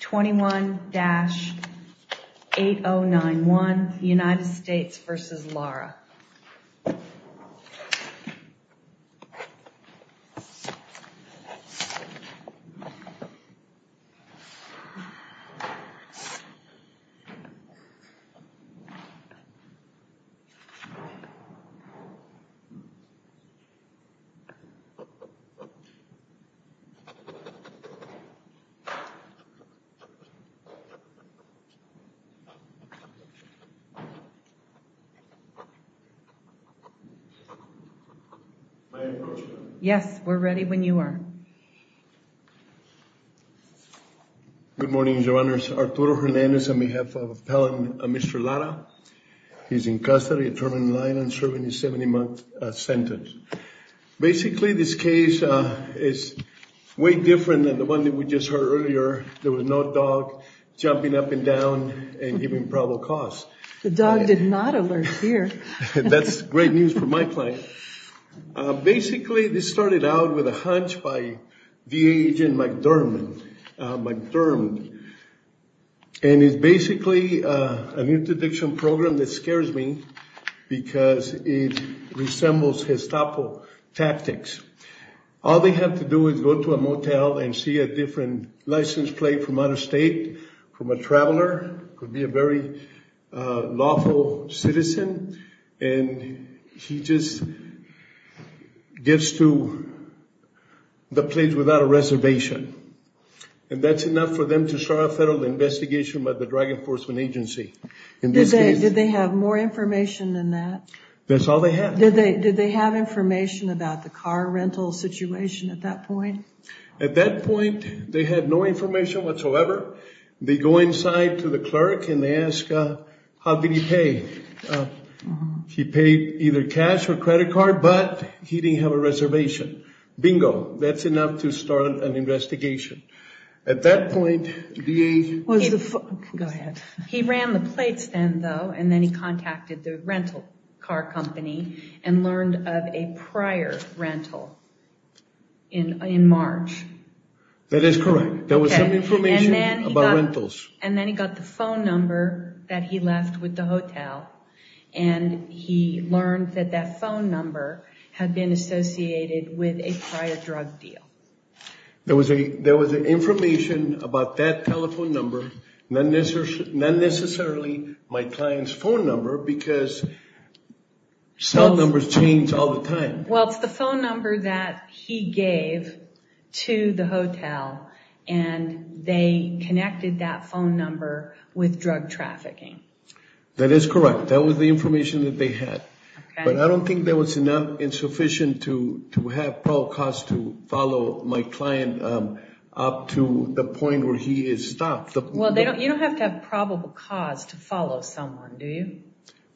21-8091 United States v. Lara Yes, we're ready when you are. Good morning, Your Honors. Arturo Hernandez on behalf of Appellant Mr. Lara. He's in custody at Terminal Island serving a 70-month sentence. Basically this case is way different than the one that we just heard earlier. There was no dog jumping up and down and giving probable cause. The dog did not alert here. That's great news for my client. Basically this started out with a hunch by VA agent McDermott. And it's basically an interdiction program that scares me because it resembles Gestapo tactics. All they have to do is go to a motel and see a different license plate from out of state, from a traveler, could be a very lawful citizen, and he just gets to the place without a reservation. And that's enough for them to start a federal investigation by the Drug Enforcement Agency. In this case... Did they have more information than that? That's all they had. Did they have information about the car rental situation at that point? At that point, they had no information whatsoever. They go inside to the clerk and they ask, how did he pay? He paid either cash or credit card, but he didn't have a reservation. Bingo. That's enough to start an investigation. At that point, VA... Go ahead. He ran the plates then though, and then he contacted the rental car company and learned of a prior rental in March. That is correct. There was some information about rentals. And then he got the phone number that he left with the hotel, and he learned that that phone number had been associated with a prior drug deal. There was information about that telephone number, not necessarily my client's phone number, because cell numbers change all the time. Well, it's the phone number that he gave to the hotel, and they connected that phone number with drug trafficking. That is correct. That was the information that they had. But I don't think that was enough insufficient to have probable cause to follow my client up to the point where he is stopped. Well, you don't have to have probable cause to follow someone, do you?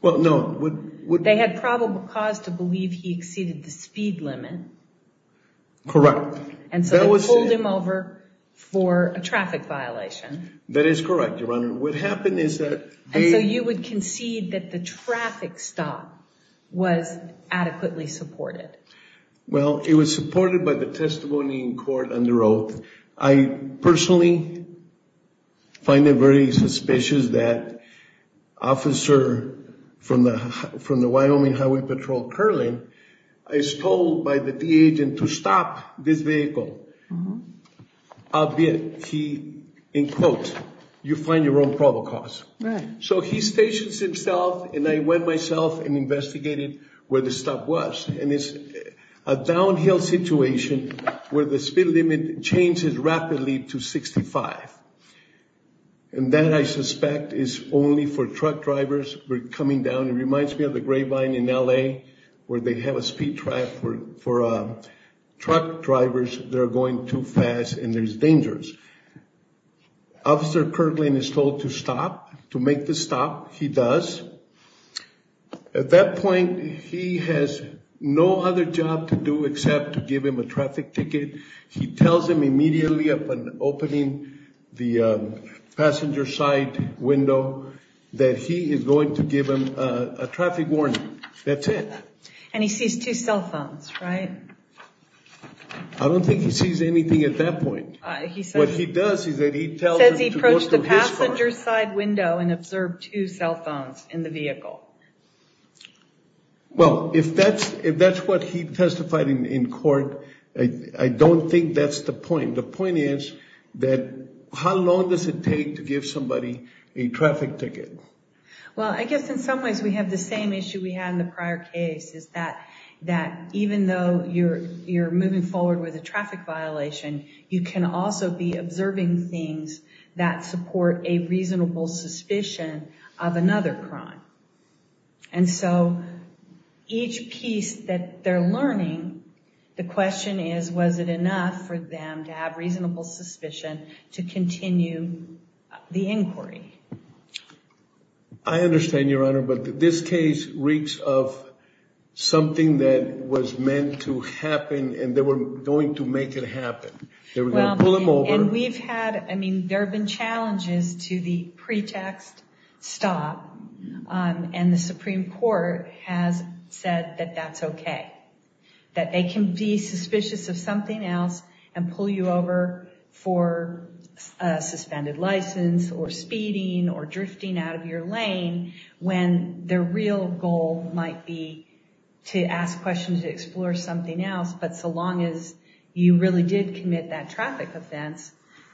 Well, no. They had probable cause to believe he exceeded the speed limit. Correct. And so they pulled him over for a traffic violation. That is correct, Your Honor. What happened is that... And so you would concede that the traffic stop was adequately supported. Well, it was supported by the testimony in court under oath. I personally find it very suspicious that an officer from the Wyoming Highway Patrol, Kerling, is told by the D-Agent to stop this vehicle. Albeit, he, in quote, you find your own probable cause. So he stations himself, and I went myself and investigated where the stop was. And it's a downhill situation where the speed limit changes rapidly to 65. And that, I suspect, is only for truck drivers who are coming down. It reminds me of the grapevine in L.A. where they have a speed trap for truck drivers that are going too fast, and there's dangers. Officer Kerling is told to stop, to make the stop. He does. At that point, he has no other job to do except to give him a traffic ticket. He tells him immediately upon opening the passenger side window that he is going to give him a traffic warning. That's it. And he sees two cell phones, right? I don't think he sees anything at that point. What he does is that he tells him to go to his car. He says he approached the passenger side window and observed two cell phones in the vehicle. Well, if that's what he testified in court, I don't think that's the point. The point is that how long does it take to give somebody a traffic ticket? Well, I guess in some ways we have the same issue we had in the prior case, is that even though you're moving forward with a traffic violation, you can also be observing things that support a reasonable suspicion of another crime. And so each piece that they're learning, the question is, was it enough for them to have reasonable suspicion to continue the inquiry? I understand, Your Honor, but this case reeks of something that was meant to happen and they were going to make it happen. They were going to pull him over. And we've had, I mean, there have been challenges to the pretext stop. And the Supreme Court has said that that's okay, that they can be suspicious of something else and that's okay, that they can be suspicious of something else, whether it's your suspended license or speeding or drifting out of your lane, when the real goal might be to ask questions, explore something else. But so long as you really did commit that traffic offense,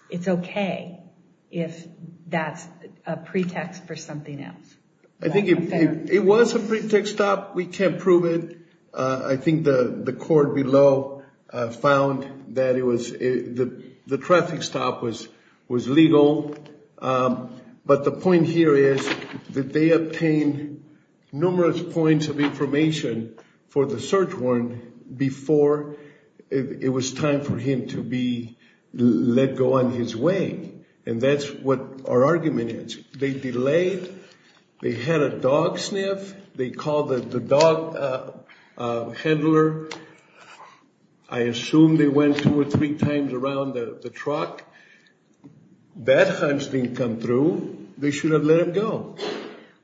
it's okay if that's a pretext for something else. I think it was a pretext stop. We can't prove it. I think the court below found that the traffic stop was legal. But the point here is that they obtained numerous points of They had a dog sniff. They called the dog handler. I assume they went two or three times around the truck. That hunch didn't come through. They should have let it go.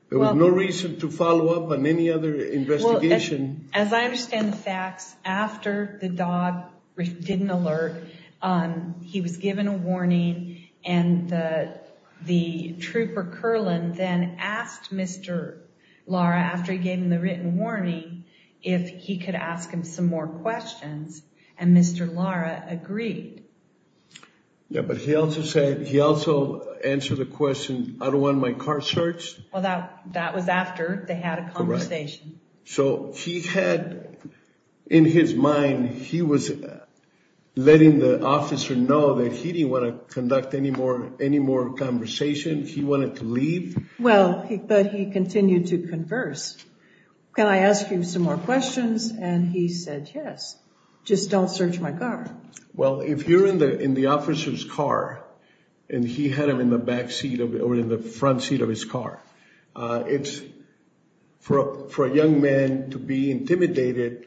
There was no reason to follow up on any other investigation. As I understand the facts, after the dog didn't alert, he was given a warning and the trooper Kerlin then asked Mr. Lara, after he gave him the written warning, if he could ask him some more questions. And Mr. Lara agreed. Yeah, but he also said, he also answered the question, I don't want my car searched. Well, that was after they had a conversation. So he had in his mind, he was letting the officer know that he didn't want to conduct any more conversation. He wanted to leave. Well, but he continued to converse. Can I ask you some more questions? And he said, yes, just don't search my car. Well, if you're in the officer's car and he had him in the back seat or in the front seat of his car, it's for a young man to be intimidated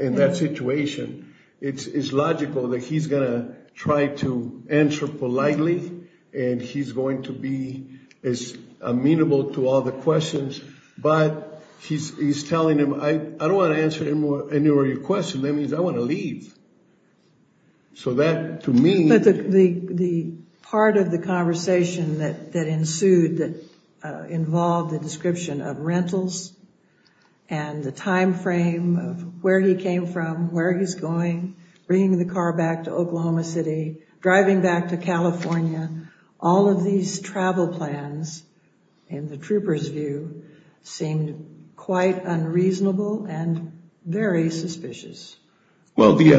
in that situation. It's logical that he's going to try to answer politely and he's going to be as amenable to all the questions. But he's telling him, I don't want to answer any more of your questions. That means I want to leave. So that to me, the part of the conversation that ensued that involved the description of rentals and the time frame of where he came from, where he's going, bringing the car back to Oklahoma City, driving back to California. All of these travel plans, in the trooper's view, seemed quite unreasonable and very suspicious. Well, the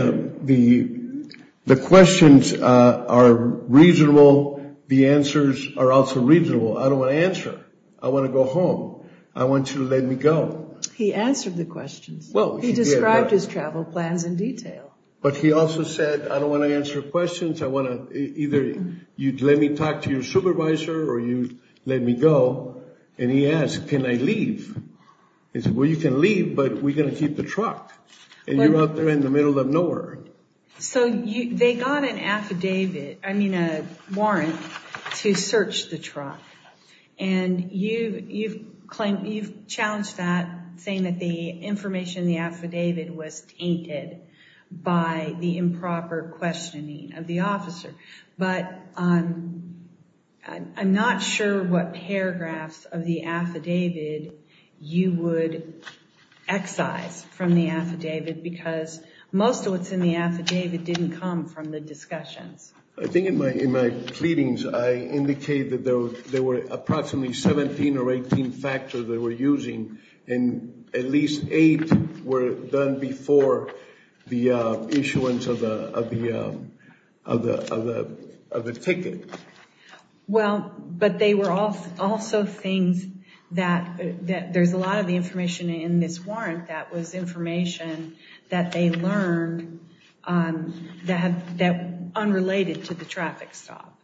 questions are reasonable. The answers are also reasonable. I don't want to answer. I want to go home. I want you to let me go. He answered the questions. Well, he described his travel plans in detail. But he also said, I don't want to answer questions. I want to either, you'd let me talk to your supervisor or you let me go. And he asked, can I leave? He said, well, you can leave, but we're going to keep the truck. And you're out there in the middle of nowhere. So they got an affidavit, I mean a warrant, to search the truck. And you've challenged that, saying that the information in the affidavit was tainted by the improper questioning of the officer. But I'm not sure what paragraphs of the affidavit you would excise from the affidavit, because most of what's in the affidavit didn't come from the discussions. I think in my pleadings, I indicated that there were approximately 17 or 18 factors they were using, and at least eight were done before the issuance of the ticket. Well, but they were also things that, there's a lot of the information in this warrant that was information that they learned that unrelated to the traffic stop.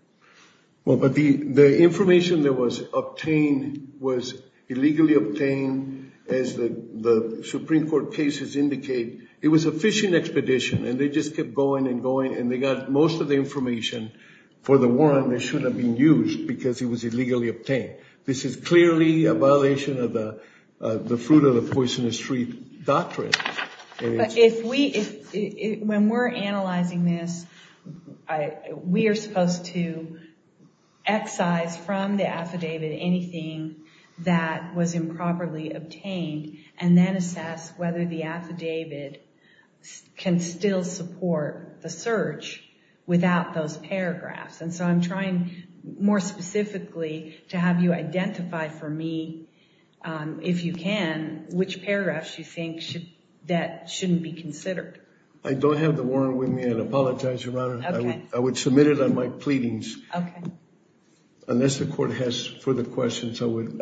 Well, but the information that was obtained was illegally obtained, as the Supreme Court cases indicate. It was a fishing expedition, and they just kept going and going, and they got most of the information for the warrant that shouldn't have been used, because it was illegally obtained. This is clearly a violation of the Fruit of the Poisonous Tree Doctrine. If we, when we're analyzing this, we are supposed to excise from the affidavit anything that was improperly obtained, and then assess whether the affidavit can still support the search without those paragraphs. And so I'm trying more specifically to have you identify for me, if you can, which paragraphs you think should, that shouldn't be considered. I don't have the warrant with me, and I apologize, Your Honor. Okay. I would submit it on my pleadings. Okay. Unless the court has further questions, I would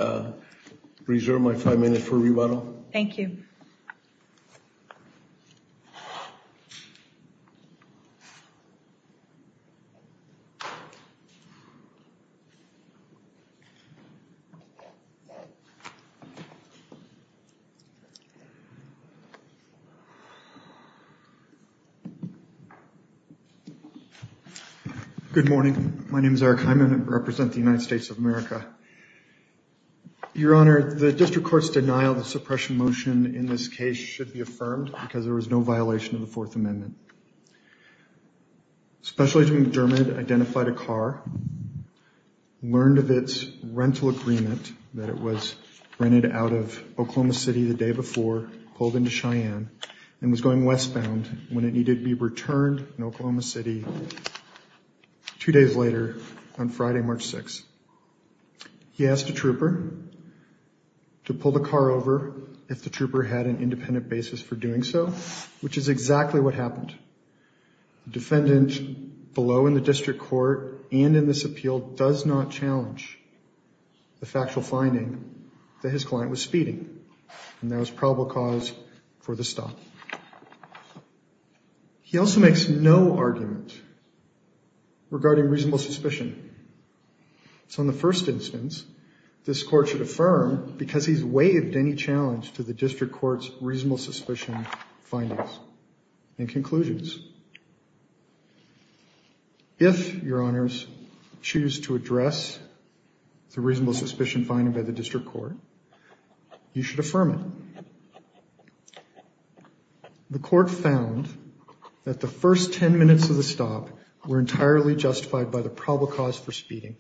reserve my five minutes for rebuttal. Thank you. Good morning. My name is Eric Hyman, and I represent the United States of America. Your Honor, the district court's denial of the suppression motion in this case should be affirmed, because there was no violation of the Fourth Amendment. Special Agent McDermott identified a car, learned of its rental agreement, that it was rented out of Oklahoma City the day before, pulled into Cheyenne, and was going westbound when it needed to be returned in Oklahoma City two days later on Friday, March 6th. He asked a trooper to pull the car over if the trooper had an independent basis for doing so, which is exactly what happened. The defendant below in the district court and in this appeal does not challenge the factual finding that his client was speeding, and that was probable cause for the stop. He also makes no argument regarding reasonable suspicion. So in the first instance, this court should affirm, because he's waived any challenge to the district court's reasonable suspicion findings and conclusions, if, Your Honors, choose to address the reasonable suspicion finding by the district court, you should affirm it. The court found that the first 10 minutes of the stop were entirely justified by the probable cause for speeding.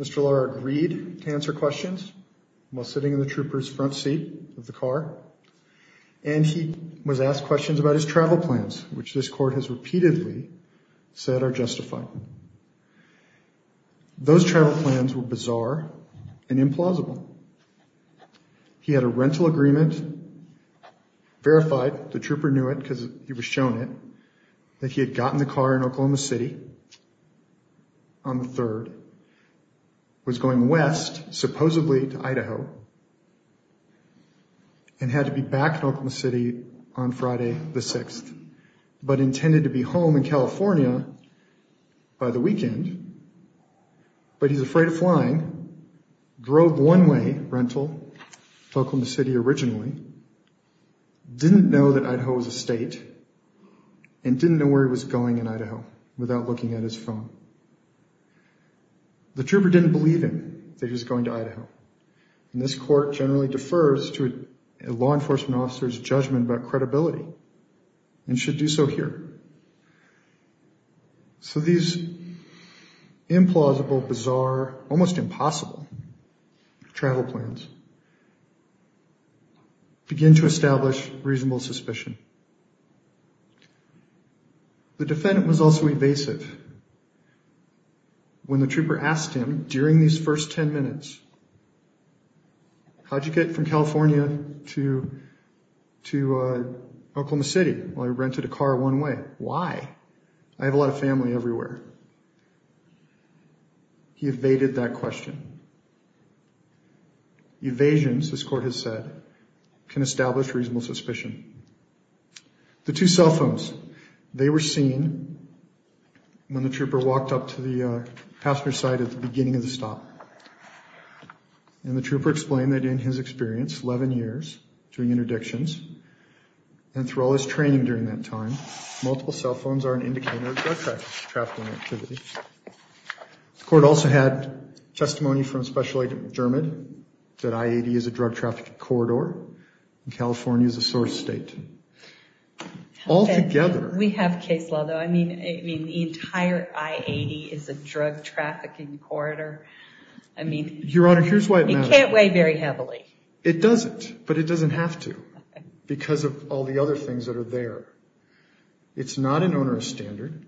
Mr. Lauer agreed to answer questions while sitting in the trooper's front seat of the car, and he was asked questions about his travel plans, which this court has repeatedly said are justified. Those travel plans were bizarre and implausible. He had a rental agreement, verified, the trooper knew it because he was shown it, that he had gotten the car in Oklahoma City on the 3rd, was going west, supposedly to Idaho, and had to be back in Oklahoma City on Friday, the 6th, but intended to be home in California by the weekend, but he's afraid of flying, drove one way, rental, Oklahoma City originally, didn't know that Idaho was a state, and didn't know where he was going in Idaho without looking at his phone. The trooper didn't believe him that he was going to Idaho, and this court generally defers to a law enforcement officer's judgment about credibility, and should do so here. So these implausible, bizarre, almost impossible travel plans begin to establish reasonable suspicion. The defendant was also evasive when the trooper asked him during these first 10 minutes, how'd you get from California to Oklahoma City while you rented a car one way? Why? I have a lot of family everywhere. He evaded that question. Evasions, this court has said, can establish reasonable suspicion. The two cell phones, they were seen when the trooper walked up to the passenger side at the beginning of the stop. And the trooper explained that in his experience, 11 years, doing interdictions, and through all his training during that time, multiple cell phones are an indicator of drug trafficking activity. The court also had testimony from Special Agent McDermott, that I-80 is a drug trafficking corridor, and California is a source state. We have case law though, I mean, the entire I-80 is a drug trafficking corridor, I mean, it can't weigh very heavily. It doesn't, but it doesn't have to, because of all the other things that are there. It's not an onerous standard,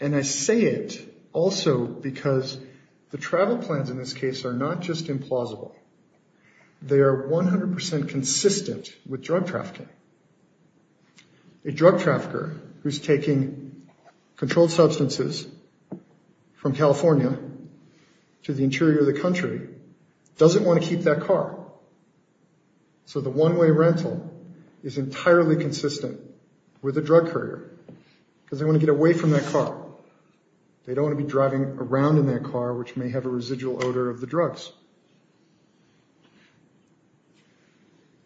and I say it also because the travel plans in this case are not just implausible. They are 100% consistent with drug trafficking. A drug trafficker who's taking controlled substances from California to the interior of the country doesn't want to keep that car. So the one-way rental is entirely consistent with a drug courier, because they want to get away from that car. They don't want to be driving around in that car, which may have a residual odor of the drugs.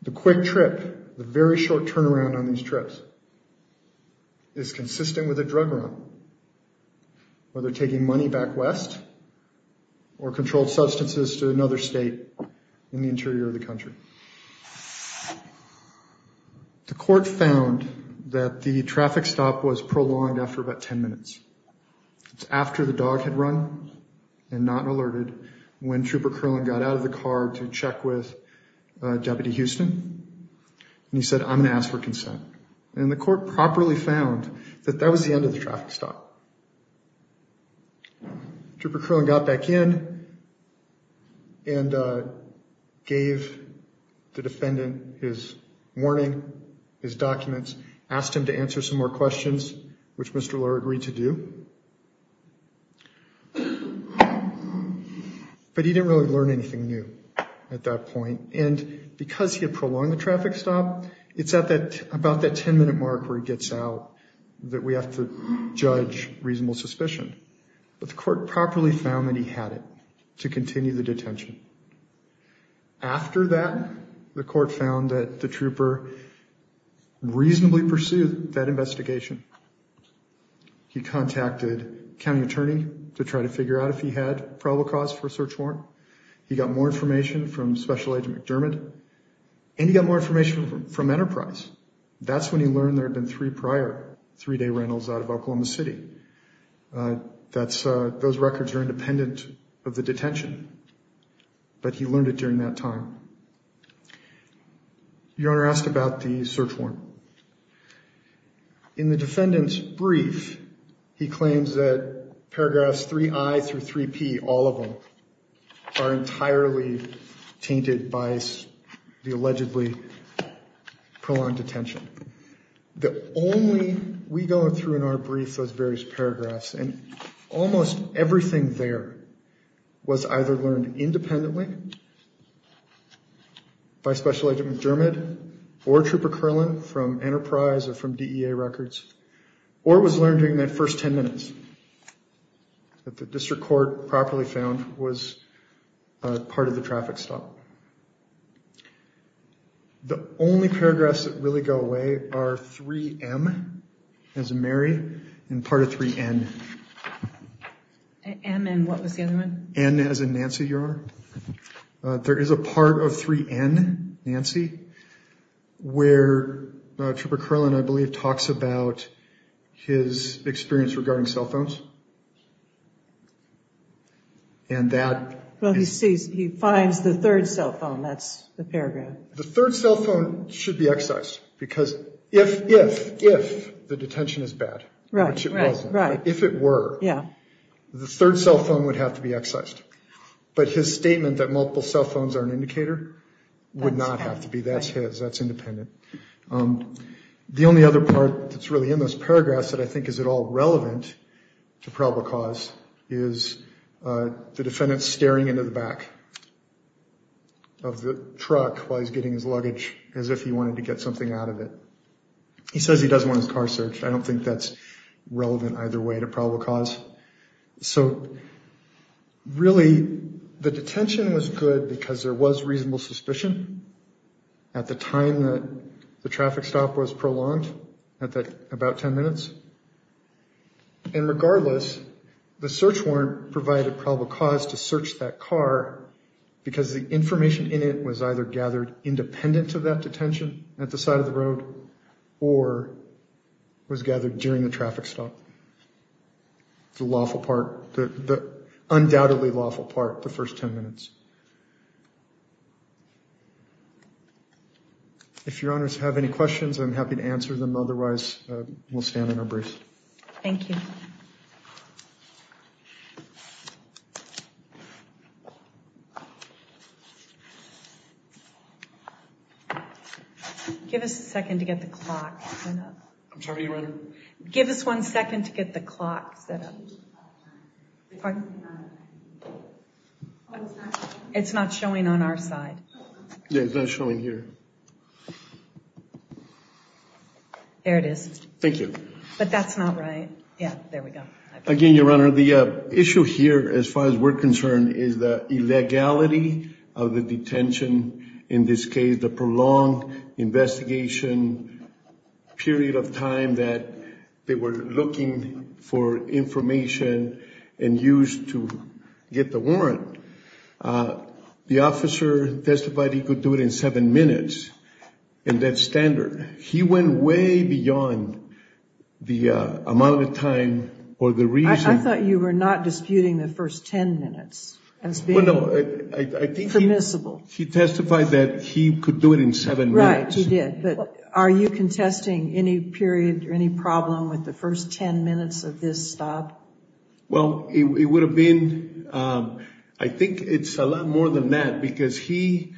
The quick trip, the very short turnaround on these trips, is consistent with a drug run, whether taking money back west or controlled substances to another state in the interior of the country. The court found that the traffic stop was prolonged after about 10 minutes. It's after the dog had run and not alerted when Trooper Curlin got out of the car to check with Deputy Houston, and he said, I'm going to ask for consent. And the court properly found that that was the end of the traffic stop. Trooper Curlin got back in and gave the defendant his warning, his documents, asked him to answer some more questions, which Mr. Lurie agreed to do. But he didn't really learn anything new at that point. And because he had prolonged the traffic stop, it's at about that 10-minute mark where he gets out that we have to judge reasonable suspicion. But the court properly found that he had it to continue the detention. After that, the court found that the trooper reasonably pursued that investigation. He contacted a county attorney to try to figure out if he had probable cause for a search warrant. He got more information from Special Agent McDermott, and he got more information from Enterprise. That's when he learned there had been three prior three-day rentals out of Oklahoma City. Those records are independent of the detention. But he learned it during that time. Your Honor asked about the search warrant. In the defendant's brief, he claims that paragraphs 3i through 3p, all of them, are entirely tainted by the allegedly prolonged detention. The only we go through in our brief, those various paragraphs, and almost everything there was either learned independently by Special Agent McDermott or Trooper Kerlin from Enterprise or from DEA records, or was learned during that first 10 minutes that the district court properly found was part of the traffic stop. The only paragraphs that really go away are 3m, as in Mary, and part of 3n. M and what was the other one? N as in Nancy, Your Honor. There is a part of 3n, Nancy, where Trooper Kerlin, I believe, talks about his experience regarding cell phones. And that... Well, he sees, he finds the third cell phone. That's the paragraph. The third cell phone should be excised because if, if, if the detention is bad. Right, right, right. If it were, the third cell phone would have to be excised. But his statement that multiple cell phones are an indicator would not have to be. That's his. That's independent. The only other part that's really in those paragraphs that I think is at all relevant to probable cause is the defendant staring into the back of the truck while he's getting his luggage as if he wanted to get something out of it. He says he doesn't want his car searched. I don't think that's relevant either way to probable cause. So really, the detention was good because there was reasonable suspicion at the time that the traffic stop was prolonged at about 10 minutes. And regardless, the search warrant provided probable cause to search that car because the information in it was either gathered independent of that detention at the side of the road or was gathered during the traffic stop. The lawful part, the undoubtedly lawful part, the first 10 minutes. If your honors have any questions, I'm happy to answer them. Otherwise, we'll stand in our brief. Thank you. Give us a second to get the clock. Give us one second to get the clock set up. It's not showing on our side. Yeah, it's not showing here. There it is. Thank you. But that's not right. Yeah, there we go. Again, your honor, the issue here, as far as we're concerned, is the illegality of the detention, in this case, the prolonged investigation period of time that they were looking for information and used to get the warrant. The officer testified he could do it in seven minutes. And that's standard. He went way beyond the amount of time or the reason. I thought you were not disputing the first 10 minutes as being permissible. He testified that he could do it in seven minutes. Right, he did. But are you contesting any period or any problem with the first 10 minutes of this stop? Well, it would have been, I think it's a lot more than that because he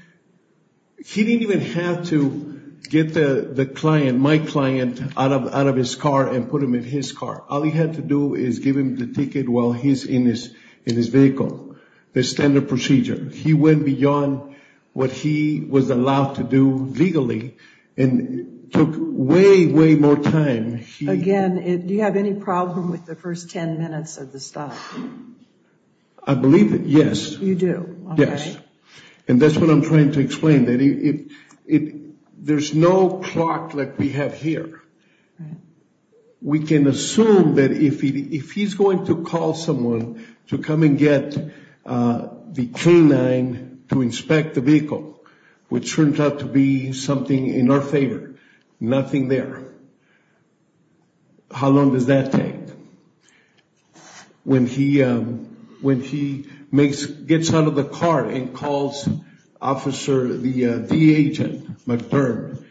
didn't even have to get the client, my client, out of his car and put him in his car. All he had to do is give him the ticket while he's in his vehicle. The standard procedure. He went beyond what he was allowed to do legally and took way, way more time. Again, do you have any problem with the first 10 minutes of the stop? I believe, yes. You do, okay. Yes. And that's what I'm trying to explain. There's no clock like we have here. We can assume that if he's going to call someone to come and get the K-9 to inspect the vehicle, which turns out to be something in our favor, nothing there. How long does that take? When he, when he makes, gets out of the car and calls officer, the, the agent, McBurn.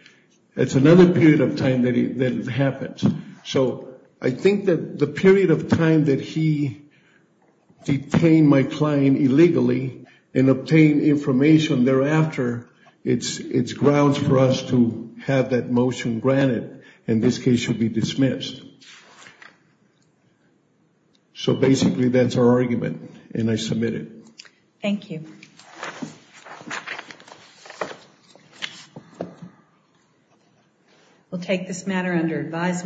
It's another period of time that it happens. So I think that the period of time that he detained my client illegally and obtained information thereafter, it's, it's grounds for us to have that motion granted. And this case should be dismissed. So basically that's our argument and I submit it. Thank you. We'll take this matter under advisement.